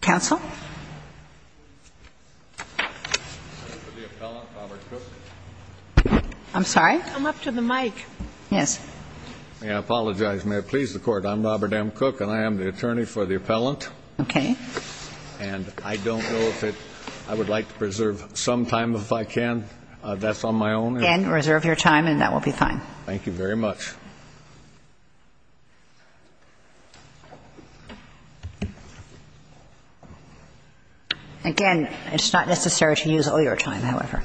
Counsel? I'm sorry? Come up to the mic. Yes. May I apologize? May I please the court? I'm Robert M. Cook and I am the attorney for the appellant. Okay. And I don't know if I would like to preserve some time if I can. That's on my own. Again, reserve your time and that will be fine. Thank you very much. Again, it's not necessary to use all your time, however.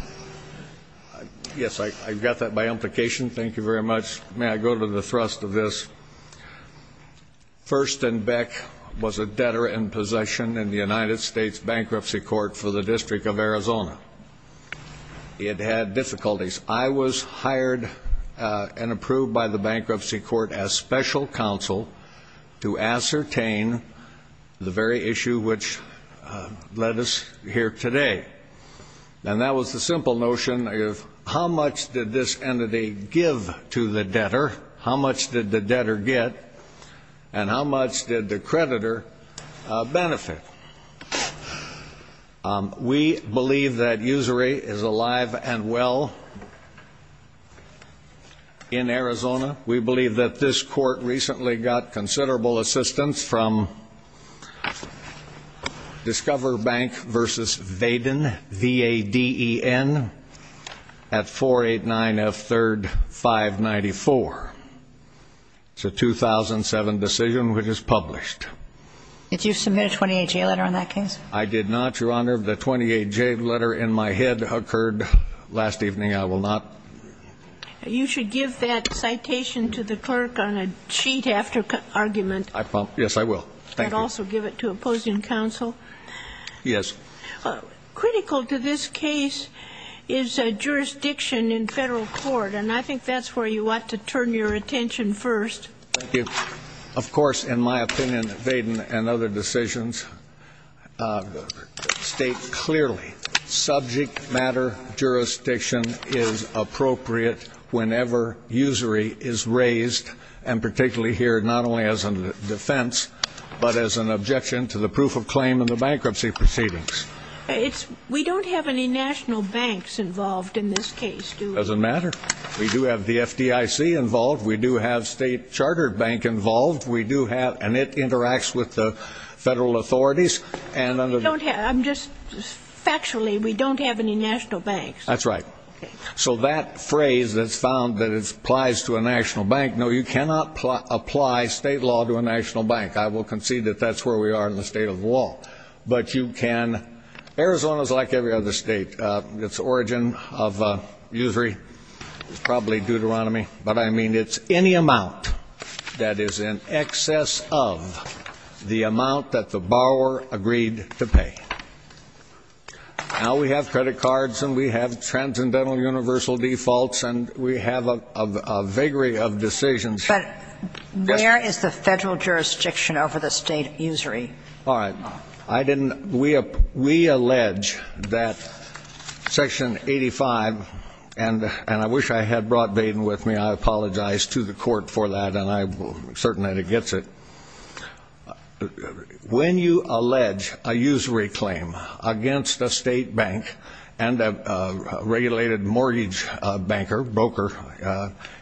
Yes, I got that by implication. Thank you very much. May I go to the thrust of this? First and Beck was a debtor in possession in the United States Bankruptcy Court for the District of Arizona. It had difficulties. I was hired and approved by the Bankruptcy Court as special counsel to ascertain the very issue which led us here today. And that was the simple notion of how much did this entity give to the debtor, how much did the We believe that usury is alive and well in Arizona. We believe that this court recently got considerable assistance from Discover Bank v. Vaden, V-A-D-E-N, at 489 F. 3rd 594. It's a 2007 decision which is published. Did you submit a 28-year letter on that case? I did not, Your Honor. The 28-J letter in my head occurred last evening. I will not. You should give that citation to the clerk on a sheet after argument. Yes, I will. Thank you. And also give it to opposing counsel. Yes. Critical to this case is jurisdiction in federal court. And I think that's where you ought to turn your attention first. Thank you. Of course, in my opinion, Vaden and other decisions state clearly subject matter jurisdiction is appropriate whenever usury is raised, and particularly here not only as a defense, but as an objection to the proof of claim in the bankruptcy proceedings. We don't have any national banks involved in this case, do we? Doesn't matter. We do have the F.D.I.C. involved. We do have state charter bank involved. We do have, and it interacts with the federal authorities. You don't have, I'm just, factually, we don't have any national banks. That's right. So that phrase that's found that it applies to a national bank, no, you cannot apply state law to a national bank. I will concede that that's where we are in the State of the Wall. But you can – Arizona is like every other state. Its origin of usury is probably Deuteronomy. But, I mean, it's any amount that is in excess of the amount that the borrower agreed to pay. Now we have credit cards and we have transcendental universal defaults, and we have a vagary of decisions. But where is the federal jurisdiction over the state usury? All right. I didn't – we allege that Section 85, and I wish I had brought Baden with me. I apologize to the court for that, and I'm certain that it gets it. When you allege a usury claim against a state bank and a regulated mortgage banker, broker,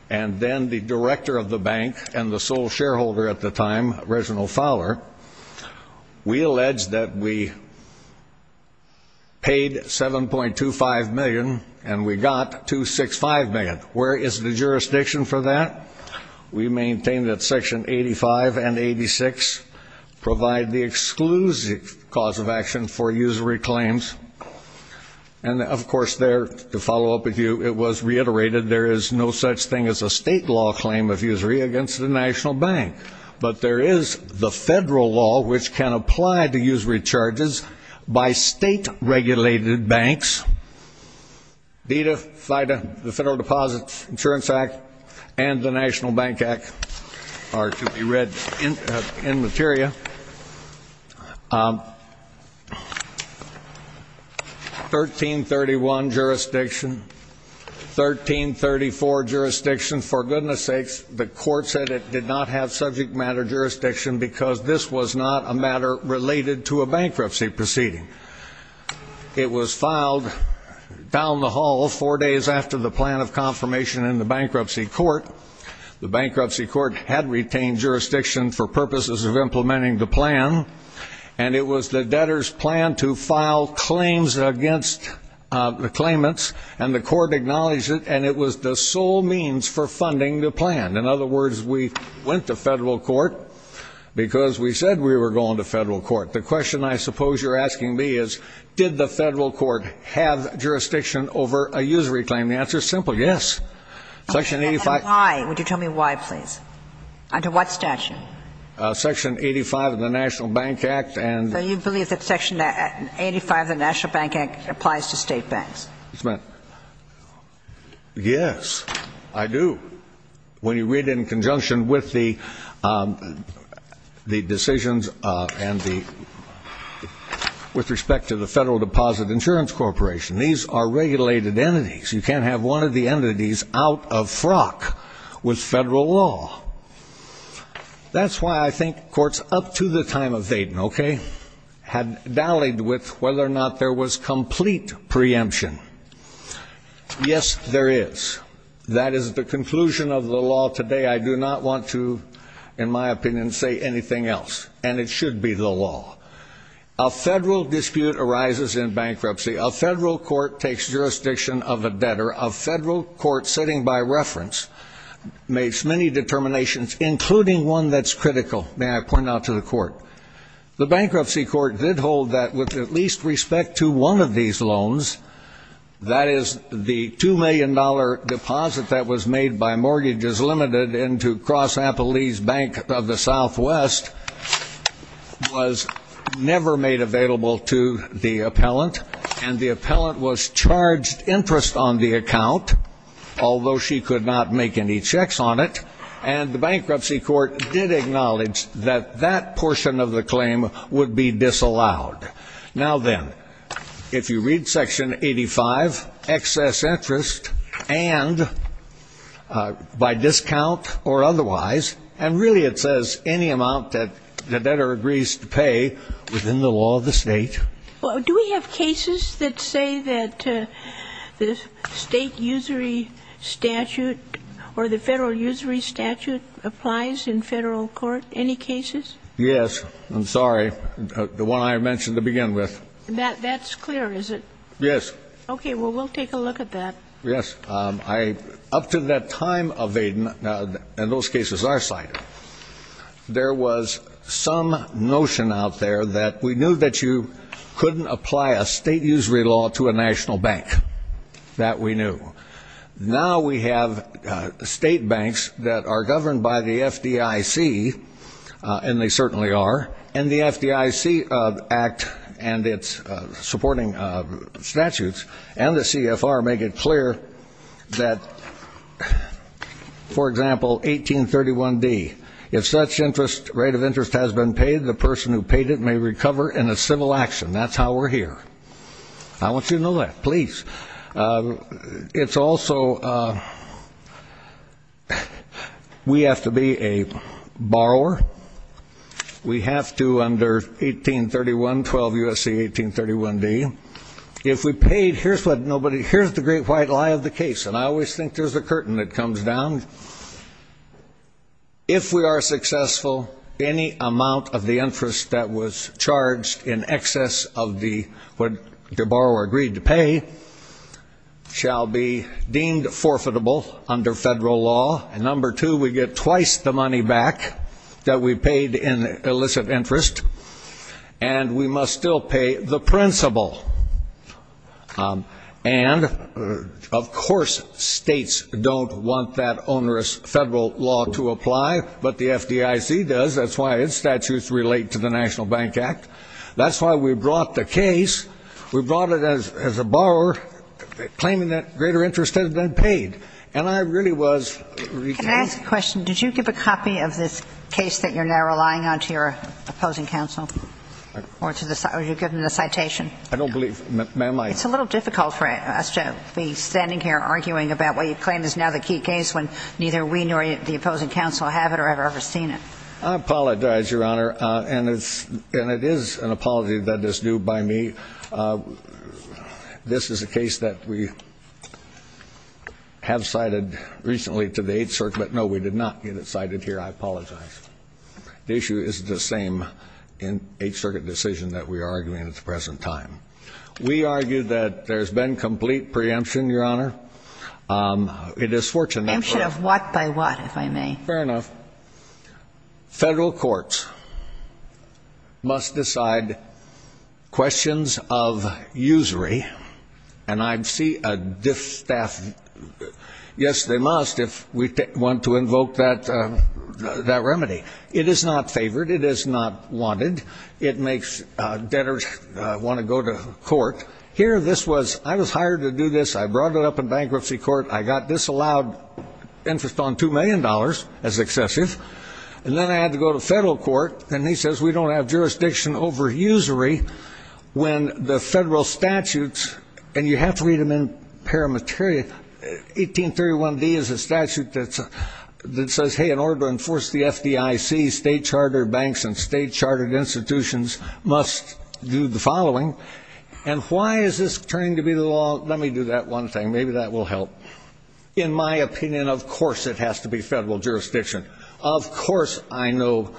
and then the director of the bank and the sole shareholder at the time, Reginald Fowler, we allege that we paid $7.25 million and we got $2.65 million. Where is the jurisdiction for that? We maintain that Section 85 and 86 provide the exclusive cause of action for usury claims. And, of course, there, to follow up with you, it was reiterated there is no such thing as a state law claim of usury against a national bank. But there is the federal law which can apply to usury charges by state regulated banks. DEDA, FIDA, the Federal Deposit Insurance Act, and the National Bank Act are to be read in materia. 1331 jurisdiction. 1334 jurisdiction. For goodness sakes, the court said it did not have subject matter jurisdiction because this was not a matter related to a bankruptcy proceeding. It was filed down the hall four days after the plan of confirmation in the bankruptcy court. The bankruptcy court had retained jurisdiction for purposes of implementing the plan, and it was the debtor's plan to file claims against the claimants, and the court acknowledged it, and it was the sole means for funding the plan. In other words, we went to federal court because we said we were going to federal court. The question I suppose you're asking me is, did the federal court have jurisdiction over a usury claim? And the answer is simple, yes. And why? Would you tell me why, please? Under what statute? Section 85 of the National Bank Act. So you believe that section 85 of the National Bank Act applies to state banks? Yes, I do. When you read it in conjunction with the decisions and the with respect to the Federal Deposit Insurance Corporation, these are regulated entities. You can't have one of the entities out of frock with federal law. That's why I think courts up to the time of Thayden, okay, had dallied with whether or not there was complete preemption. Yes, there is. That is the conclusion of the law today. I do not want to, in my opinion, say anything else, and it should be the law. A federal dispute arises in bankruptcy. A federal court takes jurisdiction of a debtor. A federal court sitting by reference makes many determinations, including one that's critical, may I point out to the court. The bankruptcy court did hold that with at least respect to one of these loans, that is the $2 million deposit that was made by Mortgages Limited into Cross the Appellant, and the appellant was charged interest on the account, although she could not make any checks on it, and the bankruptcy court did acknowledge that that portion of the claim would be disallowed. Now then, if you read section 85, excess interest, and by discount or otherwise, and really it says any amount that the debtor agrees to pay within the law of the State. Do we have cases that say that the State usury statute or the Federal usury statute applies in Federal court? Any cases? Yes. I'm sorry. The one I mentioned to begin with. That's clear, is it? Yes. Okay. Well, we'll take a look at that. Yes. I up to that time of Aden, and those cases are cited, there was some notion out there that we knew that you couldn't apply a State usury law to a national bank, that we knew. Now we have State banks that are governed by the FDIC, and they certainly are, and the FDIC Act and its supporting statutes, and the CFR make it clear that, for example, 1831D, if such interest, rate of interest has been paid, the person who paid it may recover in a civil action. That's how we're here. I want you to know that. Please. It's also, we have to be a borrower. We have to, under 1831, 12 U.S.C. 1831D, if we paid, here's what nobody, here's the great white lie of the case, and I always think there's a curtain that comes down. If we are successful, any amount of the interest that was charged in excess of the, what the borrower agreed to pay, shall be deemed forfeitable under Federal law, and number two, we get twice the money back that we paid in illicit interest, and we must still pay the principal. And, of course, States don't want that onerous Federal law to apply, but the FDIC does. That's why its statutes relate to the National Bank Act. That's why we brought the case, we brought it as a borrower, claiming that greater interest had been paid, and I really was Can I ask a question? Did you give a copy of this case that you're now relying on to your opposing counsel? Or did you give them the citation? I don't believe, ma'am, I It's a little difficult for us to be standing here arguing about what you claim is now the key case when neither we nor the opposing counsel have it or have ever seen it. I apologize, Your Honor, and it's, and it is an apology that is due by me. This is a case that we have cited recently to the Eighth Circuit. The issue is the same Eighth Circuit decision that we are arguing at the present time. We argue that there's been complete preemption, Your Honor. It is fortunate Preemption of what by what, if I may? Fair enough. Federal courts must decide questions of usury, and I see a distaff. Yes, they must if we want to invoke that remedy. It is not favored. It is not wanted. It makes debtors want to go to court. Here this was, I was hired to do this. I brought it up in bankruptcy court. I got disallowed interest on $2 million as excessive, and then I had to go to federal court, and he says we don't have jurisdiction over usury when the federal statutes, and you have to read them in paramateria, 1831D is a statute that says, hey, in order to enforce the FDIC, state chartered banks and state chartered institutions must do the following, and why is this turning to be the law? Let me do that one thing. Maybe that will help. In my opinion, of course it has to be federal jurisdiction. Of course I know,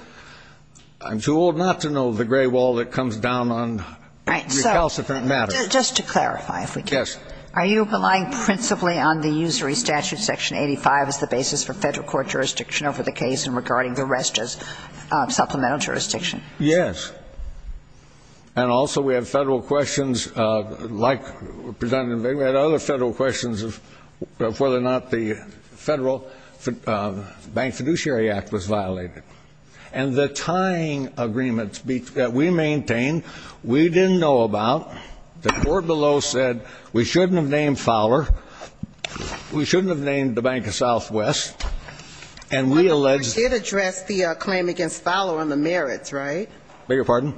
I'm too old not to know the gray wall that comes down on recalcitrant matters. Right. So just to clarify, if we can. Yes. Are you relying principally on the usury statute section 85 as the basis for federal court jurisdiction over the case and regarding the rest as supplemental jurisdiction? Yes. And also, we have federal questions like, Representative Vigna, we have other federal questions of whether or not the Federal Bank Fiduciary Act was violated. And the tying agreements that we maintained, we didn't know about, the court below said we shouldn't have named Fowler, we shouldn't have named the Bank of Southwest, and we allege Did the court address the claim against Fowler on the merits, right? Beg your pardon?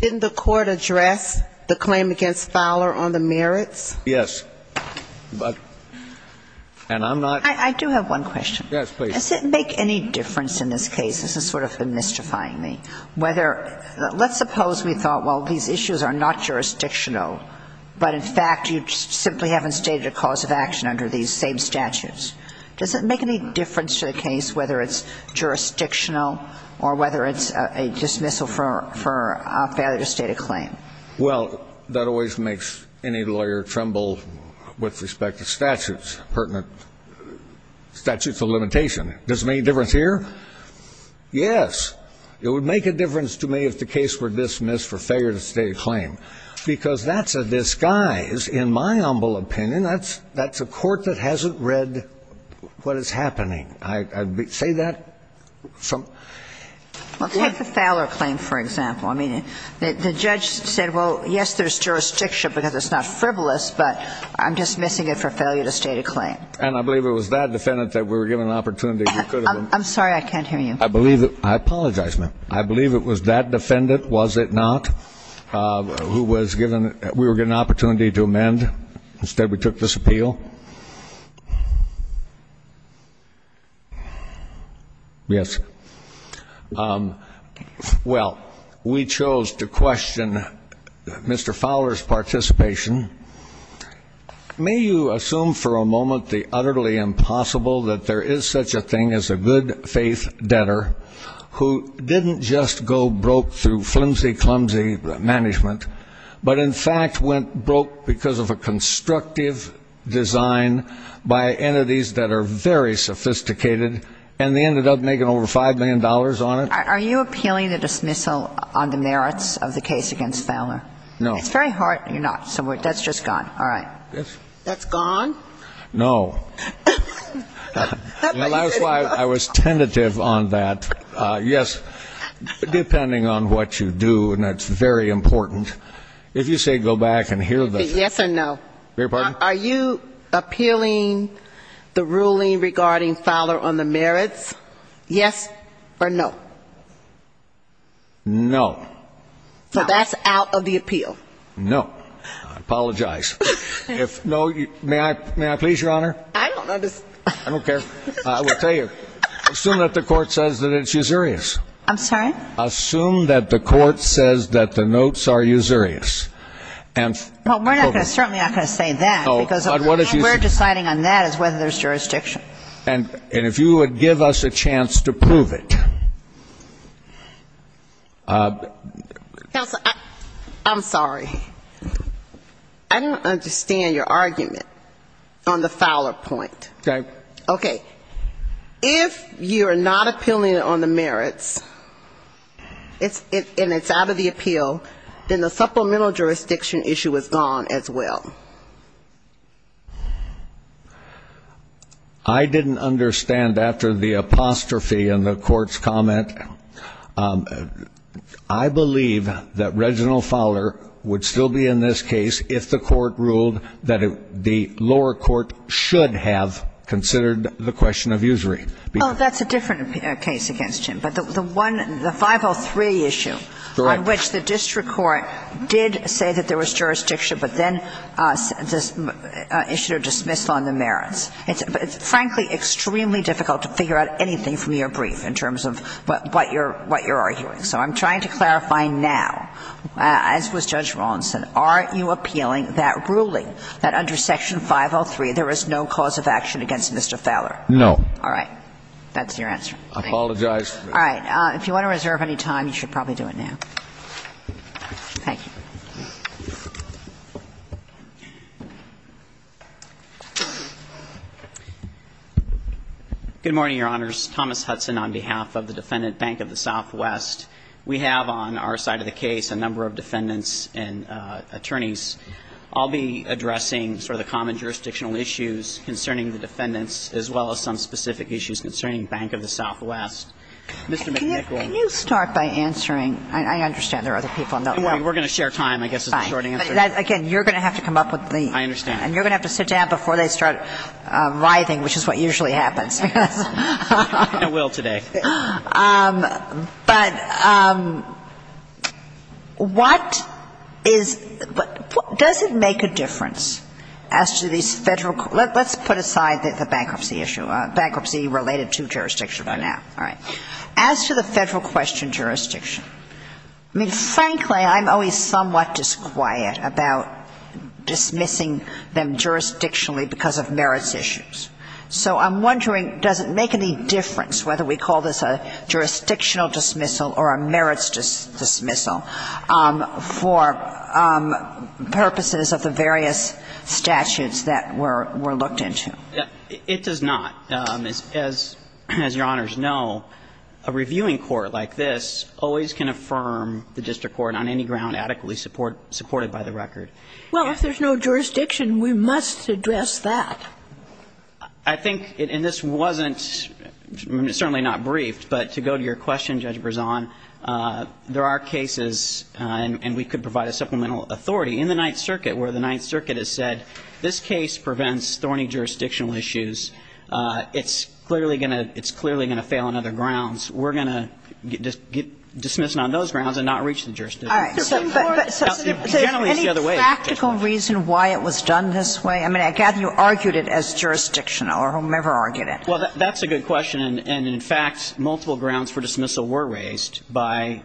Didn't the court address the claim against Fowler on the merits? Yes. But, and I'm not I do have one question. Yes, please. Does it make any difference in this case, this is sort of mystifying me, whether, let's suppose we thought, well, these issues are not jurisdictional, but in fact you simply haven't stated a cause of action under these same statutes. Does it make any difference to the case whether it's jurisdictional or whether it's a dismissal for a failure to state a claim? Well, that always makes any lawyer tremble with respect to statutes, pertinent statutes of limitation. Does it make a difference here? Yes. It would make a difference to me if the case were dismissed for failure to state a claim. Because that's a disguise, in my humble opinion. That's a court that hasn't read what is happening. I'd say that from Well, take the Fowler claim, for example. I mean, the judge said, well, yes, there's jurisdiction because it's not frivolous, but I'm dismissing it for failure to state a claim. And I believe it was that defendant that we were given an opportunity I'm sorry, I can't hear you. I believe, I apologize, ma'am. I believe it was that defendant, was it not, who was given, we were given an opportunity to amend. Instead we took this May you assume for a moment the utterly impossible that there is such a thing as a good-faith debtor who didn't just go broke through flimsy-clumsy management, but in fact went broke because of a constructive design by entities that are very sophisticated and they ended up making over $5 million on it? Are you appealing a dismissal on the merits of the case against Fowler? No. It's very hard. You're not. That's just gone. All right. That's gone? No. That's why I was tentative on that. Yes, depending on what you do, and that's very important. If you say go back and hear the Yes or no? Beg your pardon? Are you appealing the ruling regarding Fowler on the merits, yes or no? No. So that's out of the appeal? No. I apologize. May I please, Your Honor? I don't understand. I don't care. I will tell you, assume that the court says that it's usurious. I'm sorry? Assume that the court says that the notes are usurious. Well, we're certainly not going to say that, because what we're deciding on that is whether there's jurisdiction. And if you would give us a chance to prove it. Counsel, I'm sorry. I don't understand your argument on the Fowler point. Okay. Okay. If you're not appealing it on the merits, and it's out of the appeal, then the supplemental jurisdiction issue is gone as well. I didn't understand after the apostrophe in the court's comment. I believe that Reginald Fowler would still be in this case if the court ruled that the lower court should have considered the question of usury. That's a different case against him. But the 503 issue on which the district court did say that there was jurisdiction, but then issued a dismissal on the merits. It's frankly extremely difficult to figure out anything from your brief in terms of what you're arguing. So I'm trying to clarify now, as was Judge Rawson, aren't you appealing that ruling that under Section 503 there is no cause of action against Mr. Fowler? No. All right. That's your answer. I apologize. All right. If you want to reserve any time, you should probably do it now. Thank you. Good morning, Your Honors. Thomas Hudson on behalf of the Defendant Bank of the Southwest. We have on our side of the case a number of defendants and attorneys. I'll be addressing sort of the common jurisdictional issues concerning the defendants as well as some specific issues concerning Bank of the Southwest. Mr. McNichol. Can you start by answering? I understand there are other people. We're going to share time, I guess, is the short answer. Again, you're going to have to come up with the – I understand. And you're going to have to sit down before they start writhing, which is what usually happens. I will today. But what is – does it make a difference as to these Federal – let's put aside the bankruptcy issue, bankruptcy related to jurisdiction for now. All right. As to the Federal question jurisdiction, I mean, frankly, I'm always somewhat disquiet about dismissing them jurisdictionally because of merits issues. So I'm wondering, does it make any difference whether we call this a jurisdictional dismissal or a merits dismissal for purposes of the various statutes that were looked into? It does not. As Your Honors know, a reviewing court like this always can affirm the district court on any ground adequately supported by the record. Well, if there's no jurisdiction, we must address that. I think – and this wasn't – certainly not briefed. But to go to your question, Judge Brezon, there are cases – and we could provide a supplemental authority. In the Ninth Circuit, where the Ninth Circuit has said this case prevents thorny jurisdictional issues, it's clearly going to – it's clearly going to fail on other grounds. We're going to dismiss it on those grounds and not reach the jurisdiction. All right. So any practical reason why it was done this way? I mean, I gather you argued it as jurisdictional or whomever argued it. Well, that's a good question. And in fact, multiple grounds for dismissal were raised by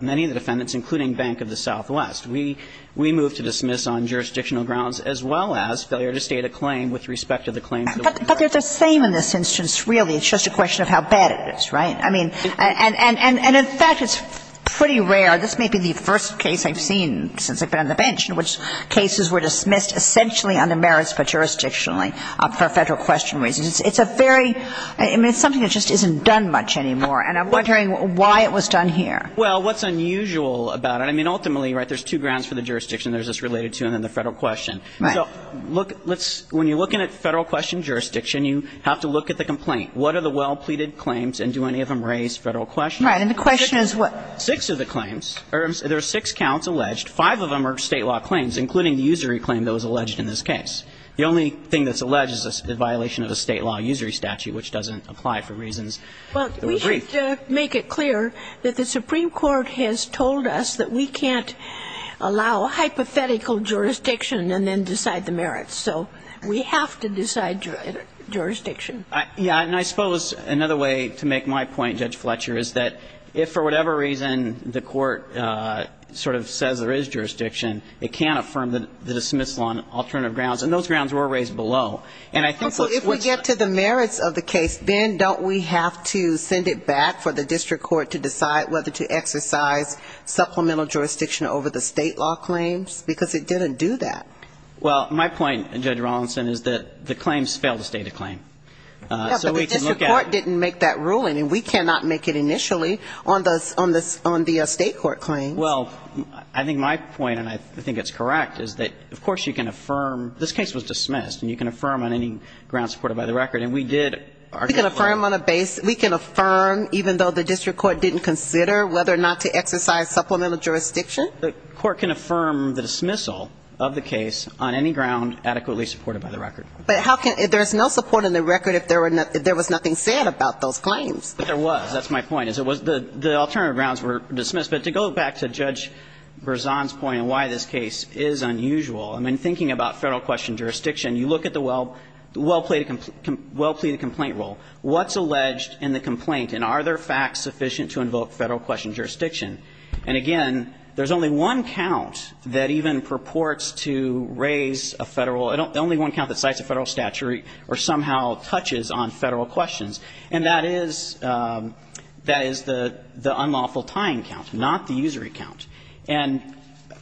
many of the defendants, including Bank of the Southwest. We moved to dismiss on jurisdictional grounds as well as failure to state a claim with respect to the claims that were – But they're the same in this instance, really. It's just a question of how bad it is, right? I mean – and in fact, it's pretty rare. This may be the first case I've seen since I've been on the bench in which cases were dismissed essentially under merits but jurisdictionally for Federal question reasons. It's a very – I mean, it's something that just isn't done much anymore. And I'm wondering why it was done here. Well, what's unusual about it – I mean, ultimately, right, there's two grounds for the jurisdiction. There's this related to and then the Federal question. Right. So look – let's – when you're looking at Federal question jurisdiction, you have to look at the complaint. What are the well-pleaded claims and do any of them raise Federal question? Right. And the question is what? Six of the claims. There are six counts alleged. Five of them are State law claims, including the usury claim that was alleged in this case. The only thing that's alleged is a violation of a State law usury statute, which doesn't apply for reasons that were brief. Just to make it clear that the Supreme Court has told us that we can't allow hypothetical jurisdiction and then decide the merits. So we have to decide jurisdiction. Yeah, and I suppose another way to make my point, Judge Fletcher, is that if for whatever reason the court sort of says there is jurisdiction, it can't affirm the dismissal on alternative grounds. And those grounds were raised below. Well, if we get to the merits of the case, then don't we have to send it back for the district court to decide whether to exercise supplemental jurisdiction over the State law claims? Because it didn't do that. Well, my point, Judge Rawlinson, is that the claims fail to state a claim. Yeah, but the district court didn't make that ruling, and we cannot make it initially on the State court claims. Well, I think my point, and I think it's correct, is that, of course, you can affirm – this case was dismissed, and you can affirm on any grounds supported by the record. And we did – We can affirm on a – we can affirm even though the district court didn't consider whether or not to exercise supplemental jurisdiction? The court can affirm the dismissal of the case on any ground adequately supported by the record. But how can – there's no support in the record if there was nothing said about those claims. But there was. That's my point, is it was – the alternative grounds were dismissed. But to go back to Judge Berzon's point on why this case is unusual, I mean, thinking about Federal question jurisdiction, you look at the well-pleaded complaint rule. What's alleged in the complaint? And are there facts sufficient to invoke Federal question jurisdiction? And, again, there's only one count that even purports to raise a Federal – only one count that cites a Federal statute or somehow touches on Federal questions. And that is – that is the unlawful tying count, not the usury count. And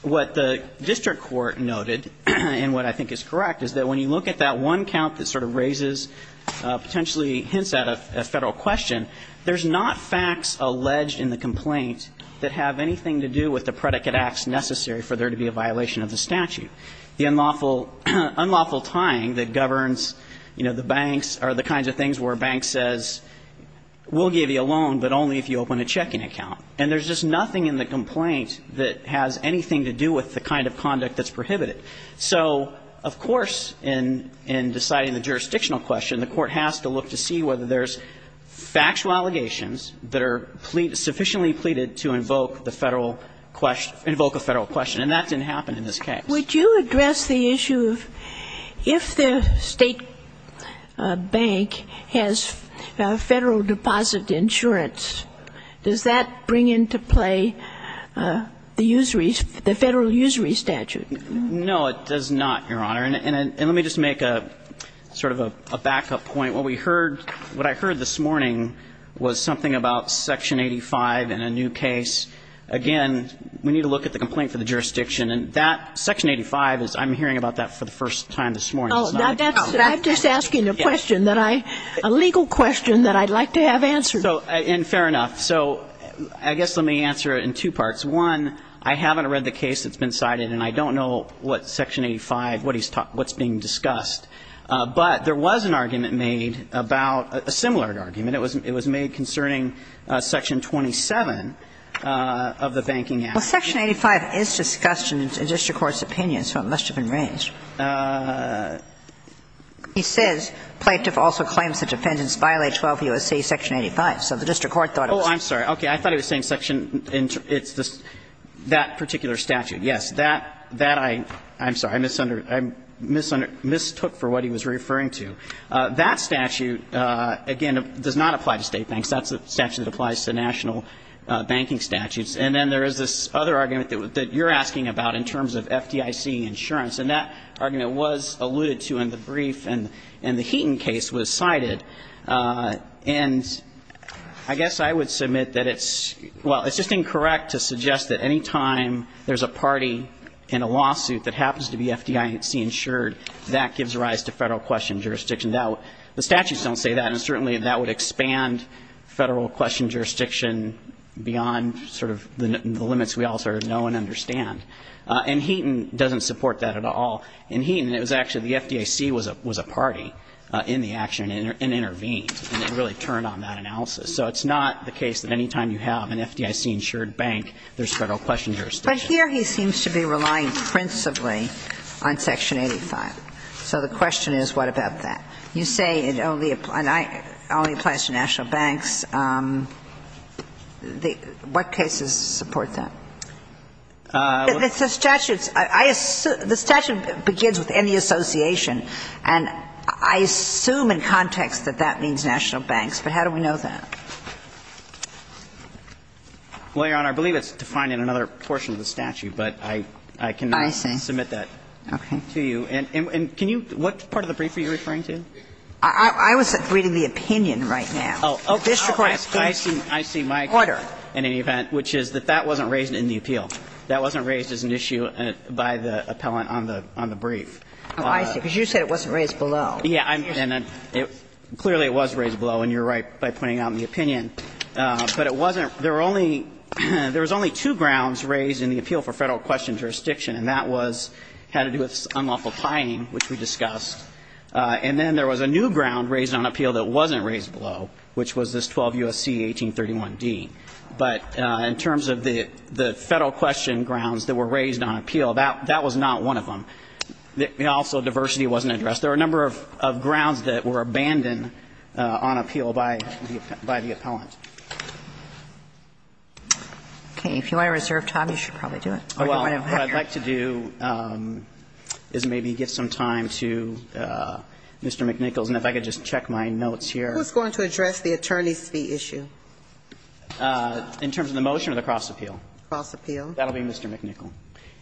what the district court noted, and what I think is correct, is that when you look at that one count that sort of raises – potentially hints at a Federal question, there's not facts alleged in the complaint that have anything to do with the predicate acts necessary for there to be a violation of the statute. The unlawful – unlawful tying that governs, you know, the banks are the kinds of things where a bank says, we'll give you a loan, but only if you open a checking account. And there's just nothing in the complaint that has anything to do with the kind of conduct that's prohibited. So, of course, in deciding the jurisdictional question, the Court has to look to see whether there's factual allegations that are sufficiently pleaded to invoke the Federal – invoke a Federal question. And that didn't happen in this case. Would you address the issue of if the State bank has Federal deposit insurance, does that bring into play the usury – the Federal usury statute? No, it does not, Your Honor. And let me just make a sort of a backup point. What we heard – what I heard this morning was something about Section 85 in a new case. Again, we need to look at the complaint for the jurisdiction. And that – Section 85 is – I'm hearing about that for the first time this morning. Oh, that's – I'm just asking a question that I – a legal question that I'd like to have answered. So – and fair enough. So I guess let me answer it in two parts. One, I haven't read the case that's been cited, and I don't know what Section 85 – what he's – what's being discussed. But there was an argument made about – a similar argument. It was – it was made concerning Section 27 of the Banking Act. Well, Section 85 is discussed in the district court's opinion, so it must have been He says, Plaintiff also claims that defendants violate 12 U.S.C. Section 85. So the district court thought it was – Oh, I'm sorry. Okay. I thought he was saying section – it's the – that particular statute. Yes. That – that I – I'm sorry. I misunderstood – I mistook for what he was referring to. That statute, again, does not apply to state banks. That's a statute that applies to national banking statutes. And then there is this other argument that you're asking about in terms of FDIC insurance. And that argument was alluded to in the brief, and the Heaton case was cited. And I guess I would submit that it's – well, it's just incorrect to suggest that any time there's a party in a lawsuit that happens to be FDIC insured, that gives rise to federal question jurisdiction. The statutes don't say that, and certainly that would expand federal question jurisdiction beyond sort of the limits we all sort of know and understand. And Heaton doesn't support that at all. In Heaton, it was actually the FDIC was a party in the action and intervened, and it really turned on that analysis. So it's not the case that any time you have an FDIC insured bank, there's federal question jurisdiction. But here he seems to be relying principally on Section 85. So the question is, what about that? You say it only applies to national banks. What cases support that? The statute begins with any association, and I assume in context that that means national banks, but how do we know that? Well, Your Honor, I believe it's defined in another portion of the statute, but I cannot submit that to you. I see. And can you – what part of the brief are you referring to? I was reading the opinion right now. Oh, okay. I see. Order. In any event, which is that that wasn't raised in the appeal. That wasn't raised as an issue by the appellant on the brief. Oh, I see. Because you said it wasn't raised below. Yeah. Clearly it was raised below, and you're right by pointing out in the opinion. But it wasn't – there were only – there was only two grounds raised in the appeal for federal question jurisdiction, and that was – had to do with unlawful pying, which we discussed. And then there was a new ground raised on appeal that wasn't raised below, which was this 12 U.S.C. 1831d. But in terms of the federal question grounds that were raised on appeal, that was not one of them. Also, diversity wasn't addressed. There were a number of grounds that were abandoned on appeal by the appellant. Okay. If you want to reserve time, you should probably do it. What I'd like to do is maybe give some time to Mr. McNichols, and if I could just check my notes here. Who's going to address the attorney's fee issue? In terms of the motion or the cross appeal? Cross appeal. That'll be Mr. McNichols.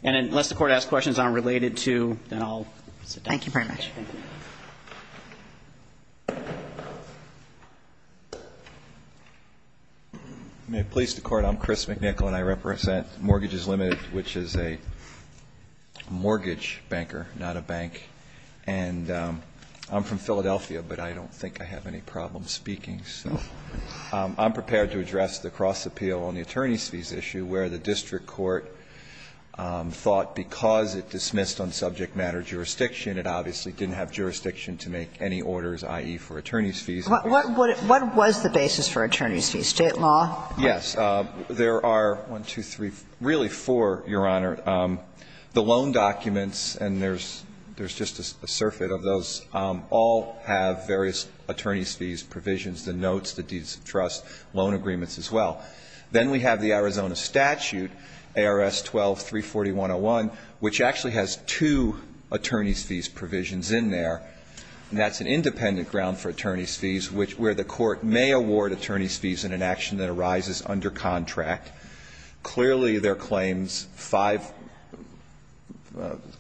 And unless the Court asks questions unrelated to – then I'll sit down. Thank you very much. Thank you. May it please the Court. I'm Chris McNichol, and I represent Mortgages Limited, which is a mortgage banker, not a bank. And I'm from Philadelphia, but I don't think I have any problem speaking. So I'm prepared to address the cross appeal on the attorney's fees issue, where the district court thought because it dismissed on subject matter jurisdiction it obviously didn't have jurisdiction to make any orders, i.e., for attorney's fees. What was the basis for attorney's fees? State law? Yes. There are one, two, three, really four, Your Honor. The loan documents, and there's just a surfeit of those, all have various attorney's fees provisions, the notes, the deeds of trust, loan agreements as well. Then we have the Arizona statute, ARS 12-34101, which actually has two attorney's fees provisions in there, and that's an independent ground for attorney's fees where the court may award attorney's fees in an action that arises under contract. Clearly, there are claims, five,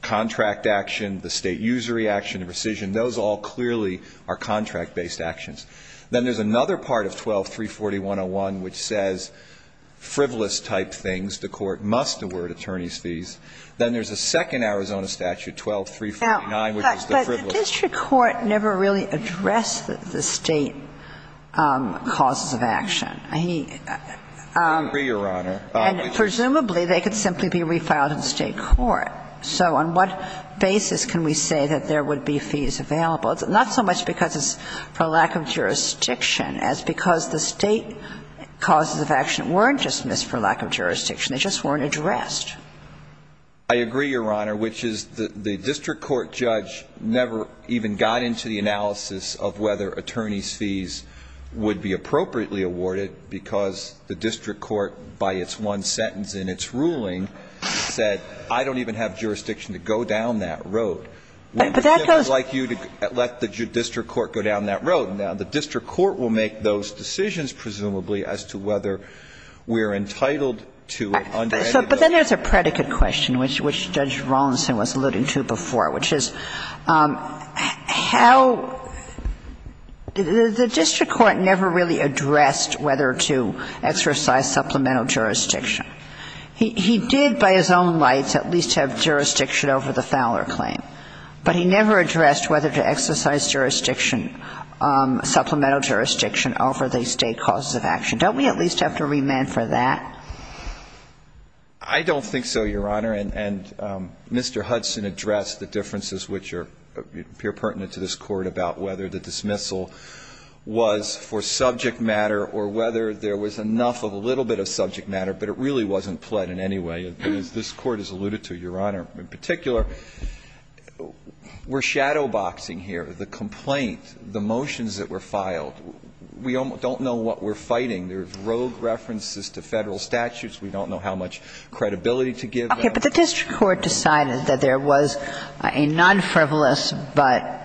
contract action, the state usury action, the rescission, those all clearly are contract-based actions. Then there's another part of ARS 12-34101 which says frivolous-type things. The court must award attorney's fees. Then there's a second Arizona statute, ARS 12-349, which is the frivolous. But the district court never really addressed the state causes of action. I mean he ---- I agree, Your Honor. And presumably, they could simply be refiled in state court. So on what basis can we say that there would be fees available? It's not so much because it's for lack of jurisdiction as because the state causes of action weren't dismissed for lack of jurisdiction. They just weren't addressed. I agree, Your Honor, which is the district court judge never even got into the analysis of whether attorney's fees would be appropriately awarded because the district court, by its one sentence in its ruling, said I don't even have jurisdiction to go down that road. But that goes ---- We would like you to let the district court go down that road. Now, the district court will make those decisions, presumably, as to whether we're entitled to it under any of those. But then there's a predicate question, which Judge Rawlinson was alluding to before, which is how the district court never really addressed whether to exercise supplemental jurisdiction. He did, by his own rights, at least have jurisdiction over the Fowler claim. But he never addressed whether to exercise jurisdiction, supplemental jurisdiction over the state causes of action. Don't we at least have to remand for that? I don't think so, Your Honor. And Mr. Hudson addressed the differences which appear pertinent to this Court about whether the dismissal was for subject matter or whether there was enough of a little bit of subject matter, but it really wasn't pled in any way, as this Court has alluded to, Your Honor. In particular, we're shadowboxing here the complaint, the motions that were filed. We don't know what we're fighting. There's rogue references to Federal statutes. We don't know how much credibility to give them. Okay. But the district court decided that there was a non-frivolous but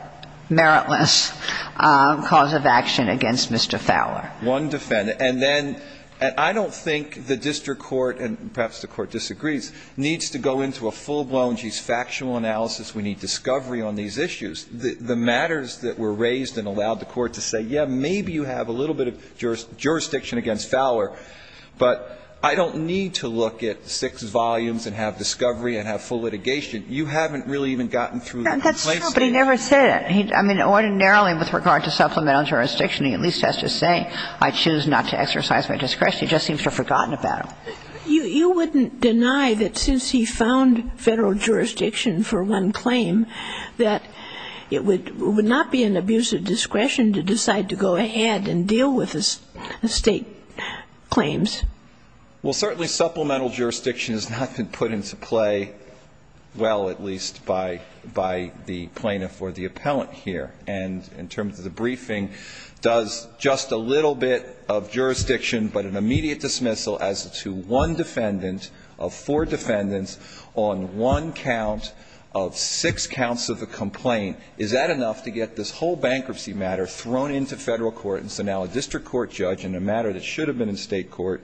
meritless cause of action against Mr. Fowler. One defendant. And then I don't think the district court, and perhaps the court disagrees, needs to go into a full-blown, geez, factual analysis. We need discovery on these issues. The matters that were raised and allowed the court to say, yes, maybe you have a little bit of jurisdiction against Fowler, but I don't need to look at six volumes and have discovery and have full litigation. You haven't really even gotten through the complaints. That's true, but he never said it. I mean, ordinarily, with regard to supplemental jurisdiction, he at least has to say, I choose not to exercise my discretion. He just seems to have forgotten about it. You wouldn't deny that since he found Federal jurisdiction for one claim, that it would not be an abuse of discretion to decide to go ahead and deal with the State claims. Well, certainly supplemental jurisdiction has not been put into play well, at least by the plaintiff or the appellant here. And in terms of the briefing, does just a little bit of jurisdiction, but an immediate dismissal as to one defendant of four defendants on one count of six counts of the bankruptcy matter thrown into Federal court, and so now a district court judge in a matter that should have been in State court,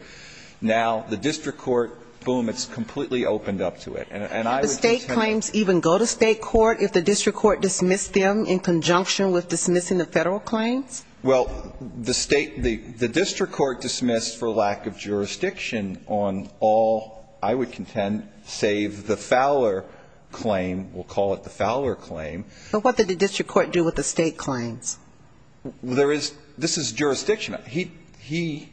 now the district court, boom, it's completely opened up to it. And I would contend that the State claims even go to State court if the district court dismissed them in conjunction with dismissing the Federal claims? Well, the State, the district court dismissed for lack of jurisdiction on all, I would contend, save the Fowler claim. We'll call it the Fowler claim. But what did the district court do with the State claims? There is, this is jurisdiction. He,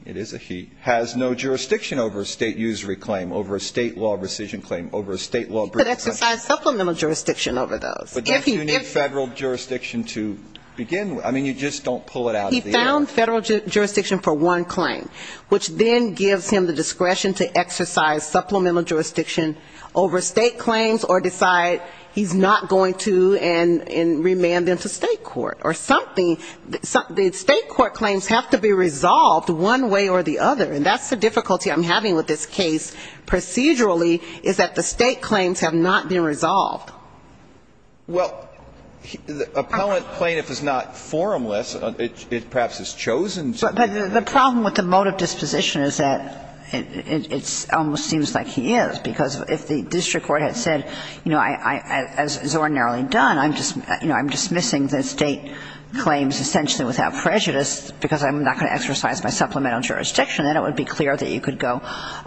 it is a he, has no jurisdiction over a State usury claim, over a State law rescission claim, over a State law briefing. He could exercise supplemental jurisdiction over those. But don't you need Federal jurisdiction to begin with? I mean, you just don't pull it out of the air. He found Federal jurisdiction for one claim, which then gives him the discretion to exercise supplemental jurisdiction over State claims or decide he's not going to and remand them to State court or something. The State court claims have to be resolved one way or the other. And that's the difficulty I'm having with this case procedurally, is that the State claims have not been resolved. Well, the appellant plaintiff is not formless. It perhaps is chosen to be. But the problem with the motive disposition is that it almost seems like he is. And I'm not going to argue that, because if the district court had said, you know, as is ordinarily done, I'm just, you know, I'm dismissing the State claims essentially without prejudice because I'm not going to exercise my supplemental jurisdiction, then it would be clear that you could go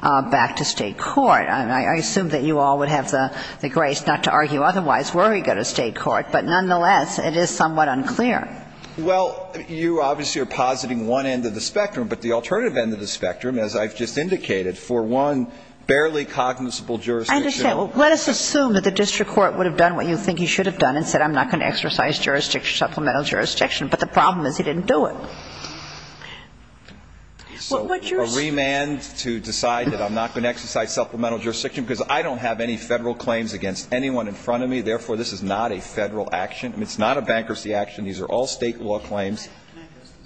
back to State court. And I assume that you all would have the grace not to argue otherwise were he to go to State court. But nonetheless, it is somewhat unclear. Well, you obviously are positing one end of the spectrum. But the alternative end of the spectrum, as I've just indicated, for one barely cognizable jurisdiction. I understand. Well, let us assume that the district court would have done what you think he should have done and said I'm not going to exercise jurisdiction, supplemental jurisdiction. But the problem is he didn't do it. So a remand to decide that I'm not going to exercise supplemental jurisdiction because I don't have any Federal claims against anyone in front of me. Therefore, this is not a Federal action. It's not a bankruptcy action. These are all State law claims.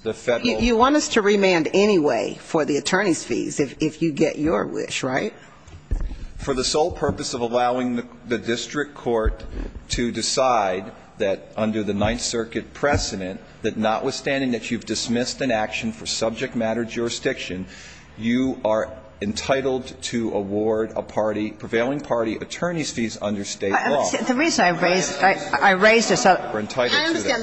The Federal. You want us to remand anyway for the attorney's fees if you get your wish, right? For the sole purpose of allowing the district court to decide that under the Ninth Circuit precedent, that notwithstanding that you've dismissed an action for subject matter jurisdiction, you are entitled to award a party, prevailing party, attorney's fees under State law. I understand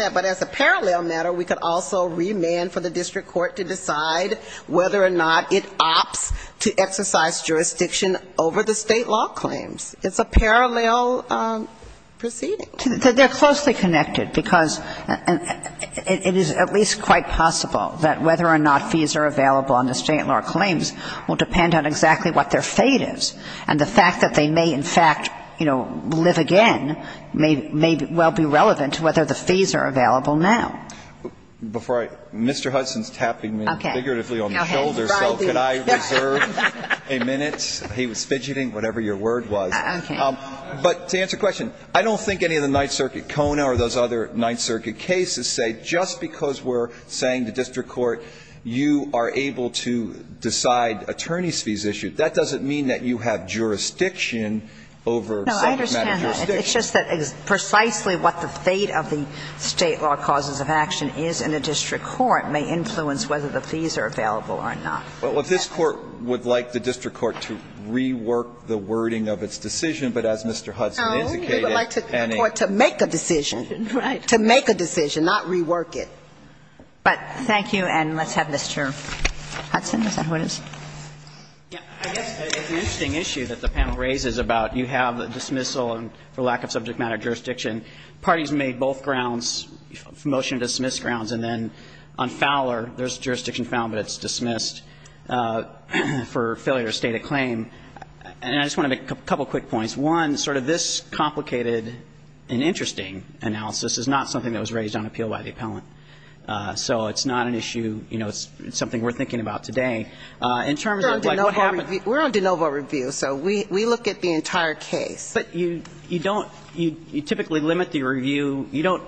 that. But as a parallel matter, we could also remand for the district court to decide whether or not it opts to exercise jurisdiction over the State law claims. It's a parallel proceeding. They're closely connected because it is at least quite possible that whether or not fees are available under State law claims will depend on exactly what their fate is. And the fact that they may in fact, you know, live again may well be relevant to whether the fees are available now. Before I – Mr. Hudson's tapping me figuratively on the shoulder, so could I reserve a minute? He was fidgeting, whatever your word was. Okay. But to answer your question, I don't think any of the Ninth Circuit CONA or those other Ninth Circuit cases say just because we're saying to district court you are able to decide attorney's fees issued, that doesn't mean that you have jurisdiction over subject matter jurisdiction. No, I understand that. It's just that precisely what the fate of the State law causes of action is in a district court may influence whether the fees are available or not. Well, if this Court would like the district court to rework the wording of its decision, but as Mr. Hudson indicated, Annie. Oh, we would like the court to make a decision. Right. To make a decision, not rework it. But thank you, and let's have Mr. Hudson. Is that who it is? Yeah. I guess it's an interesting issue that the panel raises about you have dismissal for lack of subject matter jurisdiction. Parties made both grounds, motion to dismiss grounds, and then on Fowler, there's jurisdiction found, but it's dismissed for failure to state a claim. And I just want to make a couple quick points. One, sort of this complicated and interesting analysis is not something that was raised on appeal by the appellant. So it's not an issue, you know, it's something we're thinking about today. In terms of like what happened. We're on de novo review. So we look at the entire case. But you don't you typically limit the review. You don't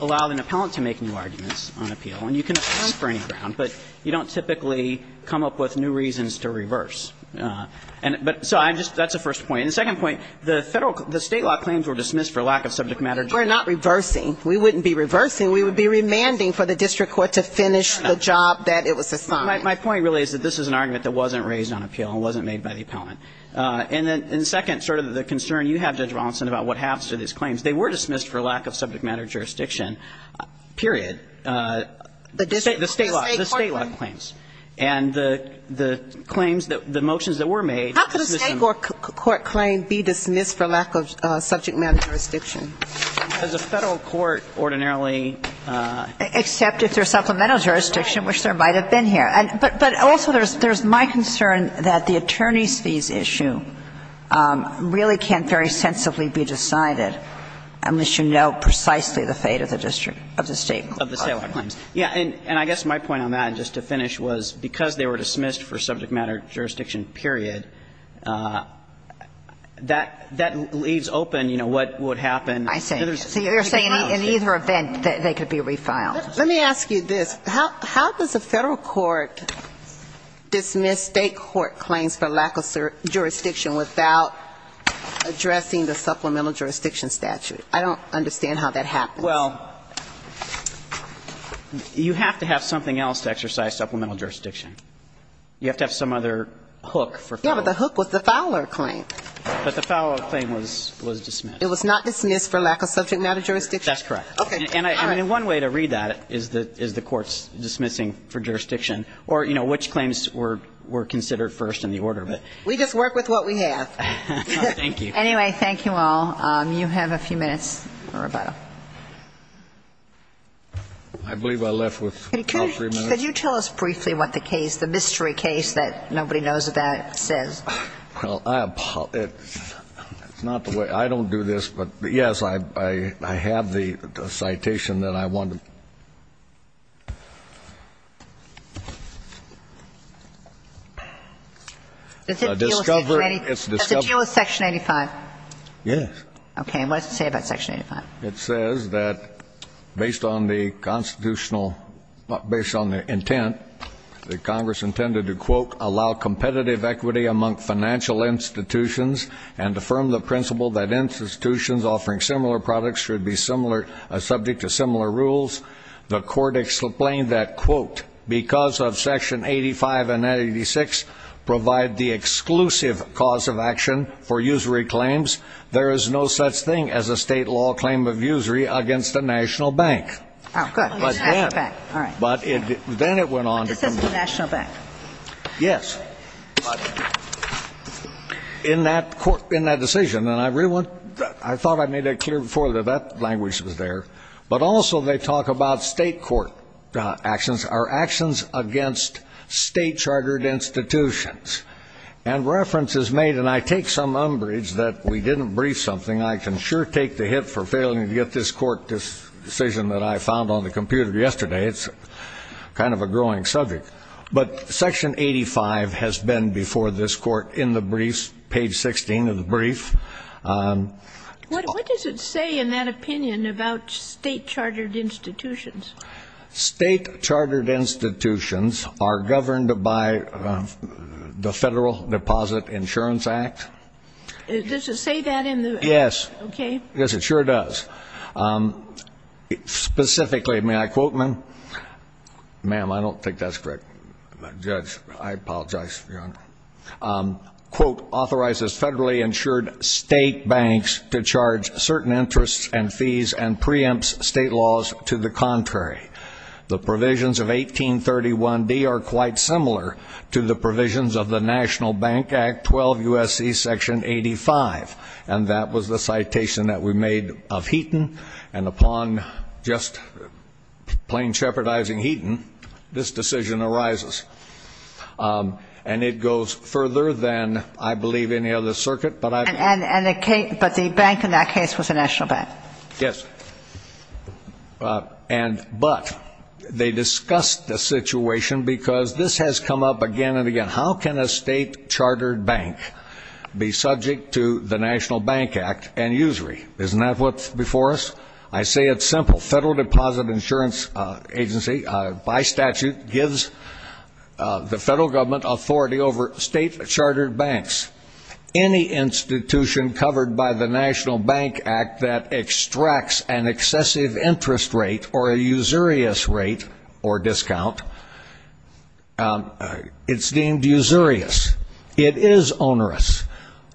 allow an appellant to make new arguments on appeal. And you can dismiss for any ground, but you don't typically come up with new reasons to reverse. But so I'm just that's the first point. And the second point, the Federal the State law claims were dismissed for lack of subject matter jurisdiction. We're not reversing. We wouldn't be reversing. We would be remanding for the district court to finish the job that it was assigned. My point really is that this is an argument that wasn't raised on appeal and wasn't made by the appellant. And then second, sort of the concern you have, Judge Rawlinson, about what happens to these claims. They were dismissed for lack of subject matter jurisdiction, period. The district court. The State law. The State law claims. And the claims that the motions that were made. How could a State court claim be dismissed for lack of subject matter jurisdiction? Does a Federal court ordinarily? Except if they're supplemental jurisdiction, which there might have been here. But also there's my concern that the attorney's fees issue really can't very sensibly be decided unless you know precisely the fate of the district, of the State court. Of the State law claims. Yes. And I guess my point on that, just to finish, was because they were dismissed for subject matter jurisdiction, period, that leaves open, you know, what would have happened. I see. You're saying in either event they could be refiled. Let me ask you this. How does a Federal court dismiss State court claims for lack of jurisdiction without addressing the supplemental jurisdiction statute? I don't understand how that happens. Well, you have to have something else to exercise supplemental jurisdiction. You have to have some other hook for Federal. Yeah, but the hook was the Fowler claim. But the Fowler claim was dismissed. It was not dismissed for lack of subject matter jurisdiction? That's correct. Okay. And I mean, one way to read that is the court's dismissing for jurisdiction or, you know, which claims were considered first in the order. We just work with what we have. Thank you. Anyway, thank you all. You have a few minutes, Roberto. I believe I left with all three minutes. Could you tell us briefly what the case, the mystery case that nobody knows about says? Well, it's not the way. I don't do this. But, yes, I have the citation that I wanted. Does it deal with Section 85? Yes. Okay. And what does it say about Section 85? It says that based on the constitutional, based on the intent that Congress intended to, quote, allow competitive equity among financial institutions and affirm the principle that institutions offering similar products should be similar, subject to similar rules, the court explained that, quote, because of Section 85 and 86 provide the exclusive cause of action for usury claims, there is no such thing as a state law claim of usury against a national bank. Oh, good. Okay. All right. But then it went on to come to court. This is the national bank. Yes. But in that court, in that decision, and I thought I made that clear before that that language was there, but also they talk about state court actions are actions against state-chartered institutions. And reference is made, and I take some umbrage that we didn't brief something. I can sure take the hit for failing to get this court decision that I found on the growing subject. But Section 85 has been before this court in the briefs, page 16 of the brief. What does it say in that opinion about state-chartered institutions? State-chartered institutions are governed by the Federal Deposit Insurance Act. Does it say that in the act? Yes. Okay. Yes, it sure does. Specifically, may I quote, ma'am? Ma'am, I don't think that's correct. Judge, I apologize for your honor. Quote, authorizes federally insured state banks to charge certain interests and fees and preempts state laws to the contrary. The provisions of 1831D are quite similar to the provisions of the National Bank Act, 12 U.S.C. Section 85. And that was the citation that we made of Heaton, and upon just plain jeopardizing Heaton, this decision arises. And it goes further than I believe any other circuit. But the bank in that case was the National Bank. Yes. But they discussed the situation because this has come up again and again. How can a state-chartered bank be subject to the National Bank Act and usury? Isn't that what's before us? I say it's simple. Federal Deposit Insurance Agency, by statute, gives the federal government authority over state-chartered banks. Any institution covered by the National Bank Act that extracts an excessive interest rate or a usurious rate or discount, it's deemed usurious. It is onerous.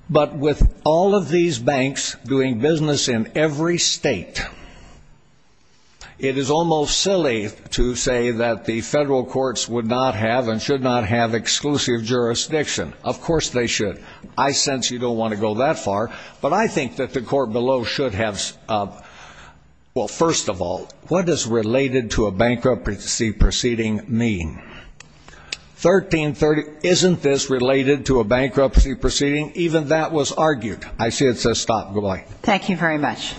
But with all of these banks doing business in every state, it is almost silly to say that the federal courts would not have and should not have exclusive jurisdiction. Of course they should. I sense you don't want to go that far. But I think that the court below should have, well, first of all, what does related to a bankruptcy proceeding mean? 1330, isn't this related to a bankruptcy proceeding? Even that was argued. I see it says stop. Good-bye. Thank you very much.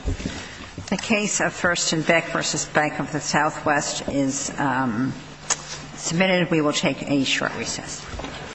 The case of First and Beck v. Bank of the Southwest is submitted. We will take a short recess.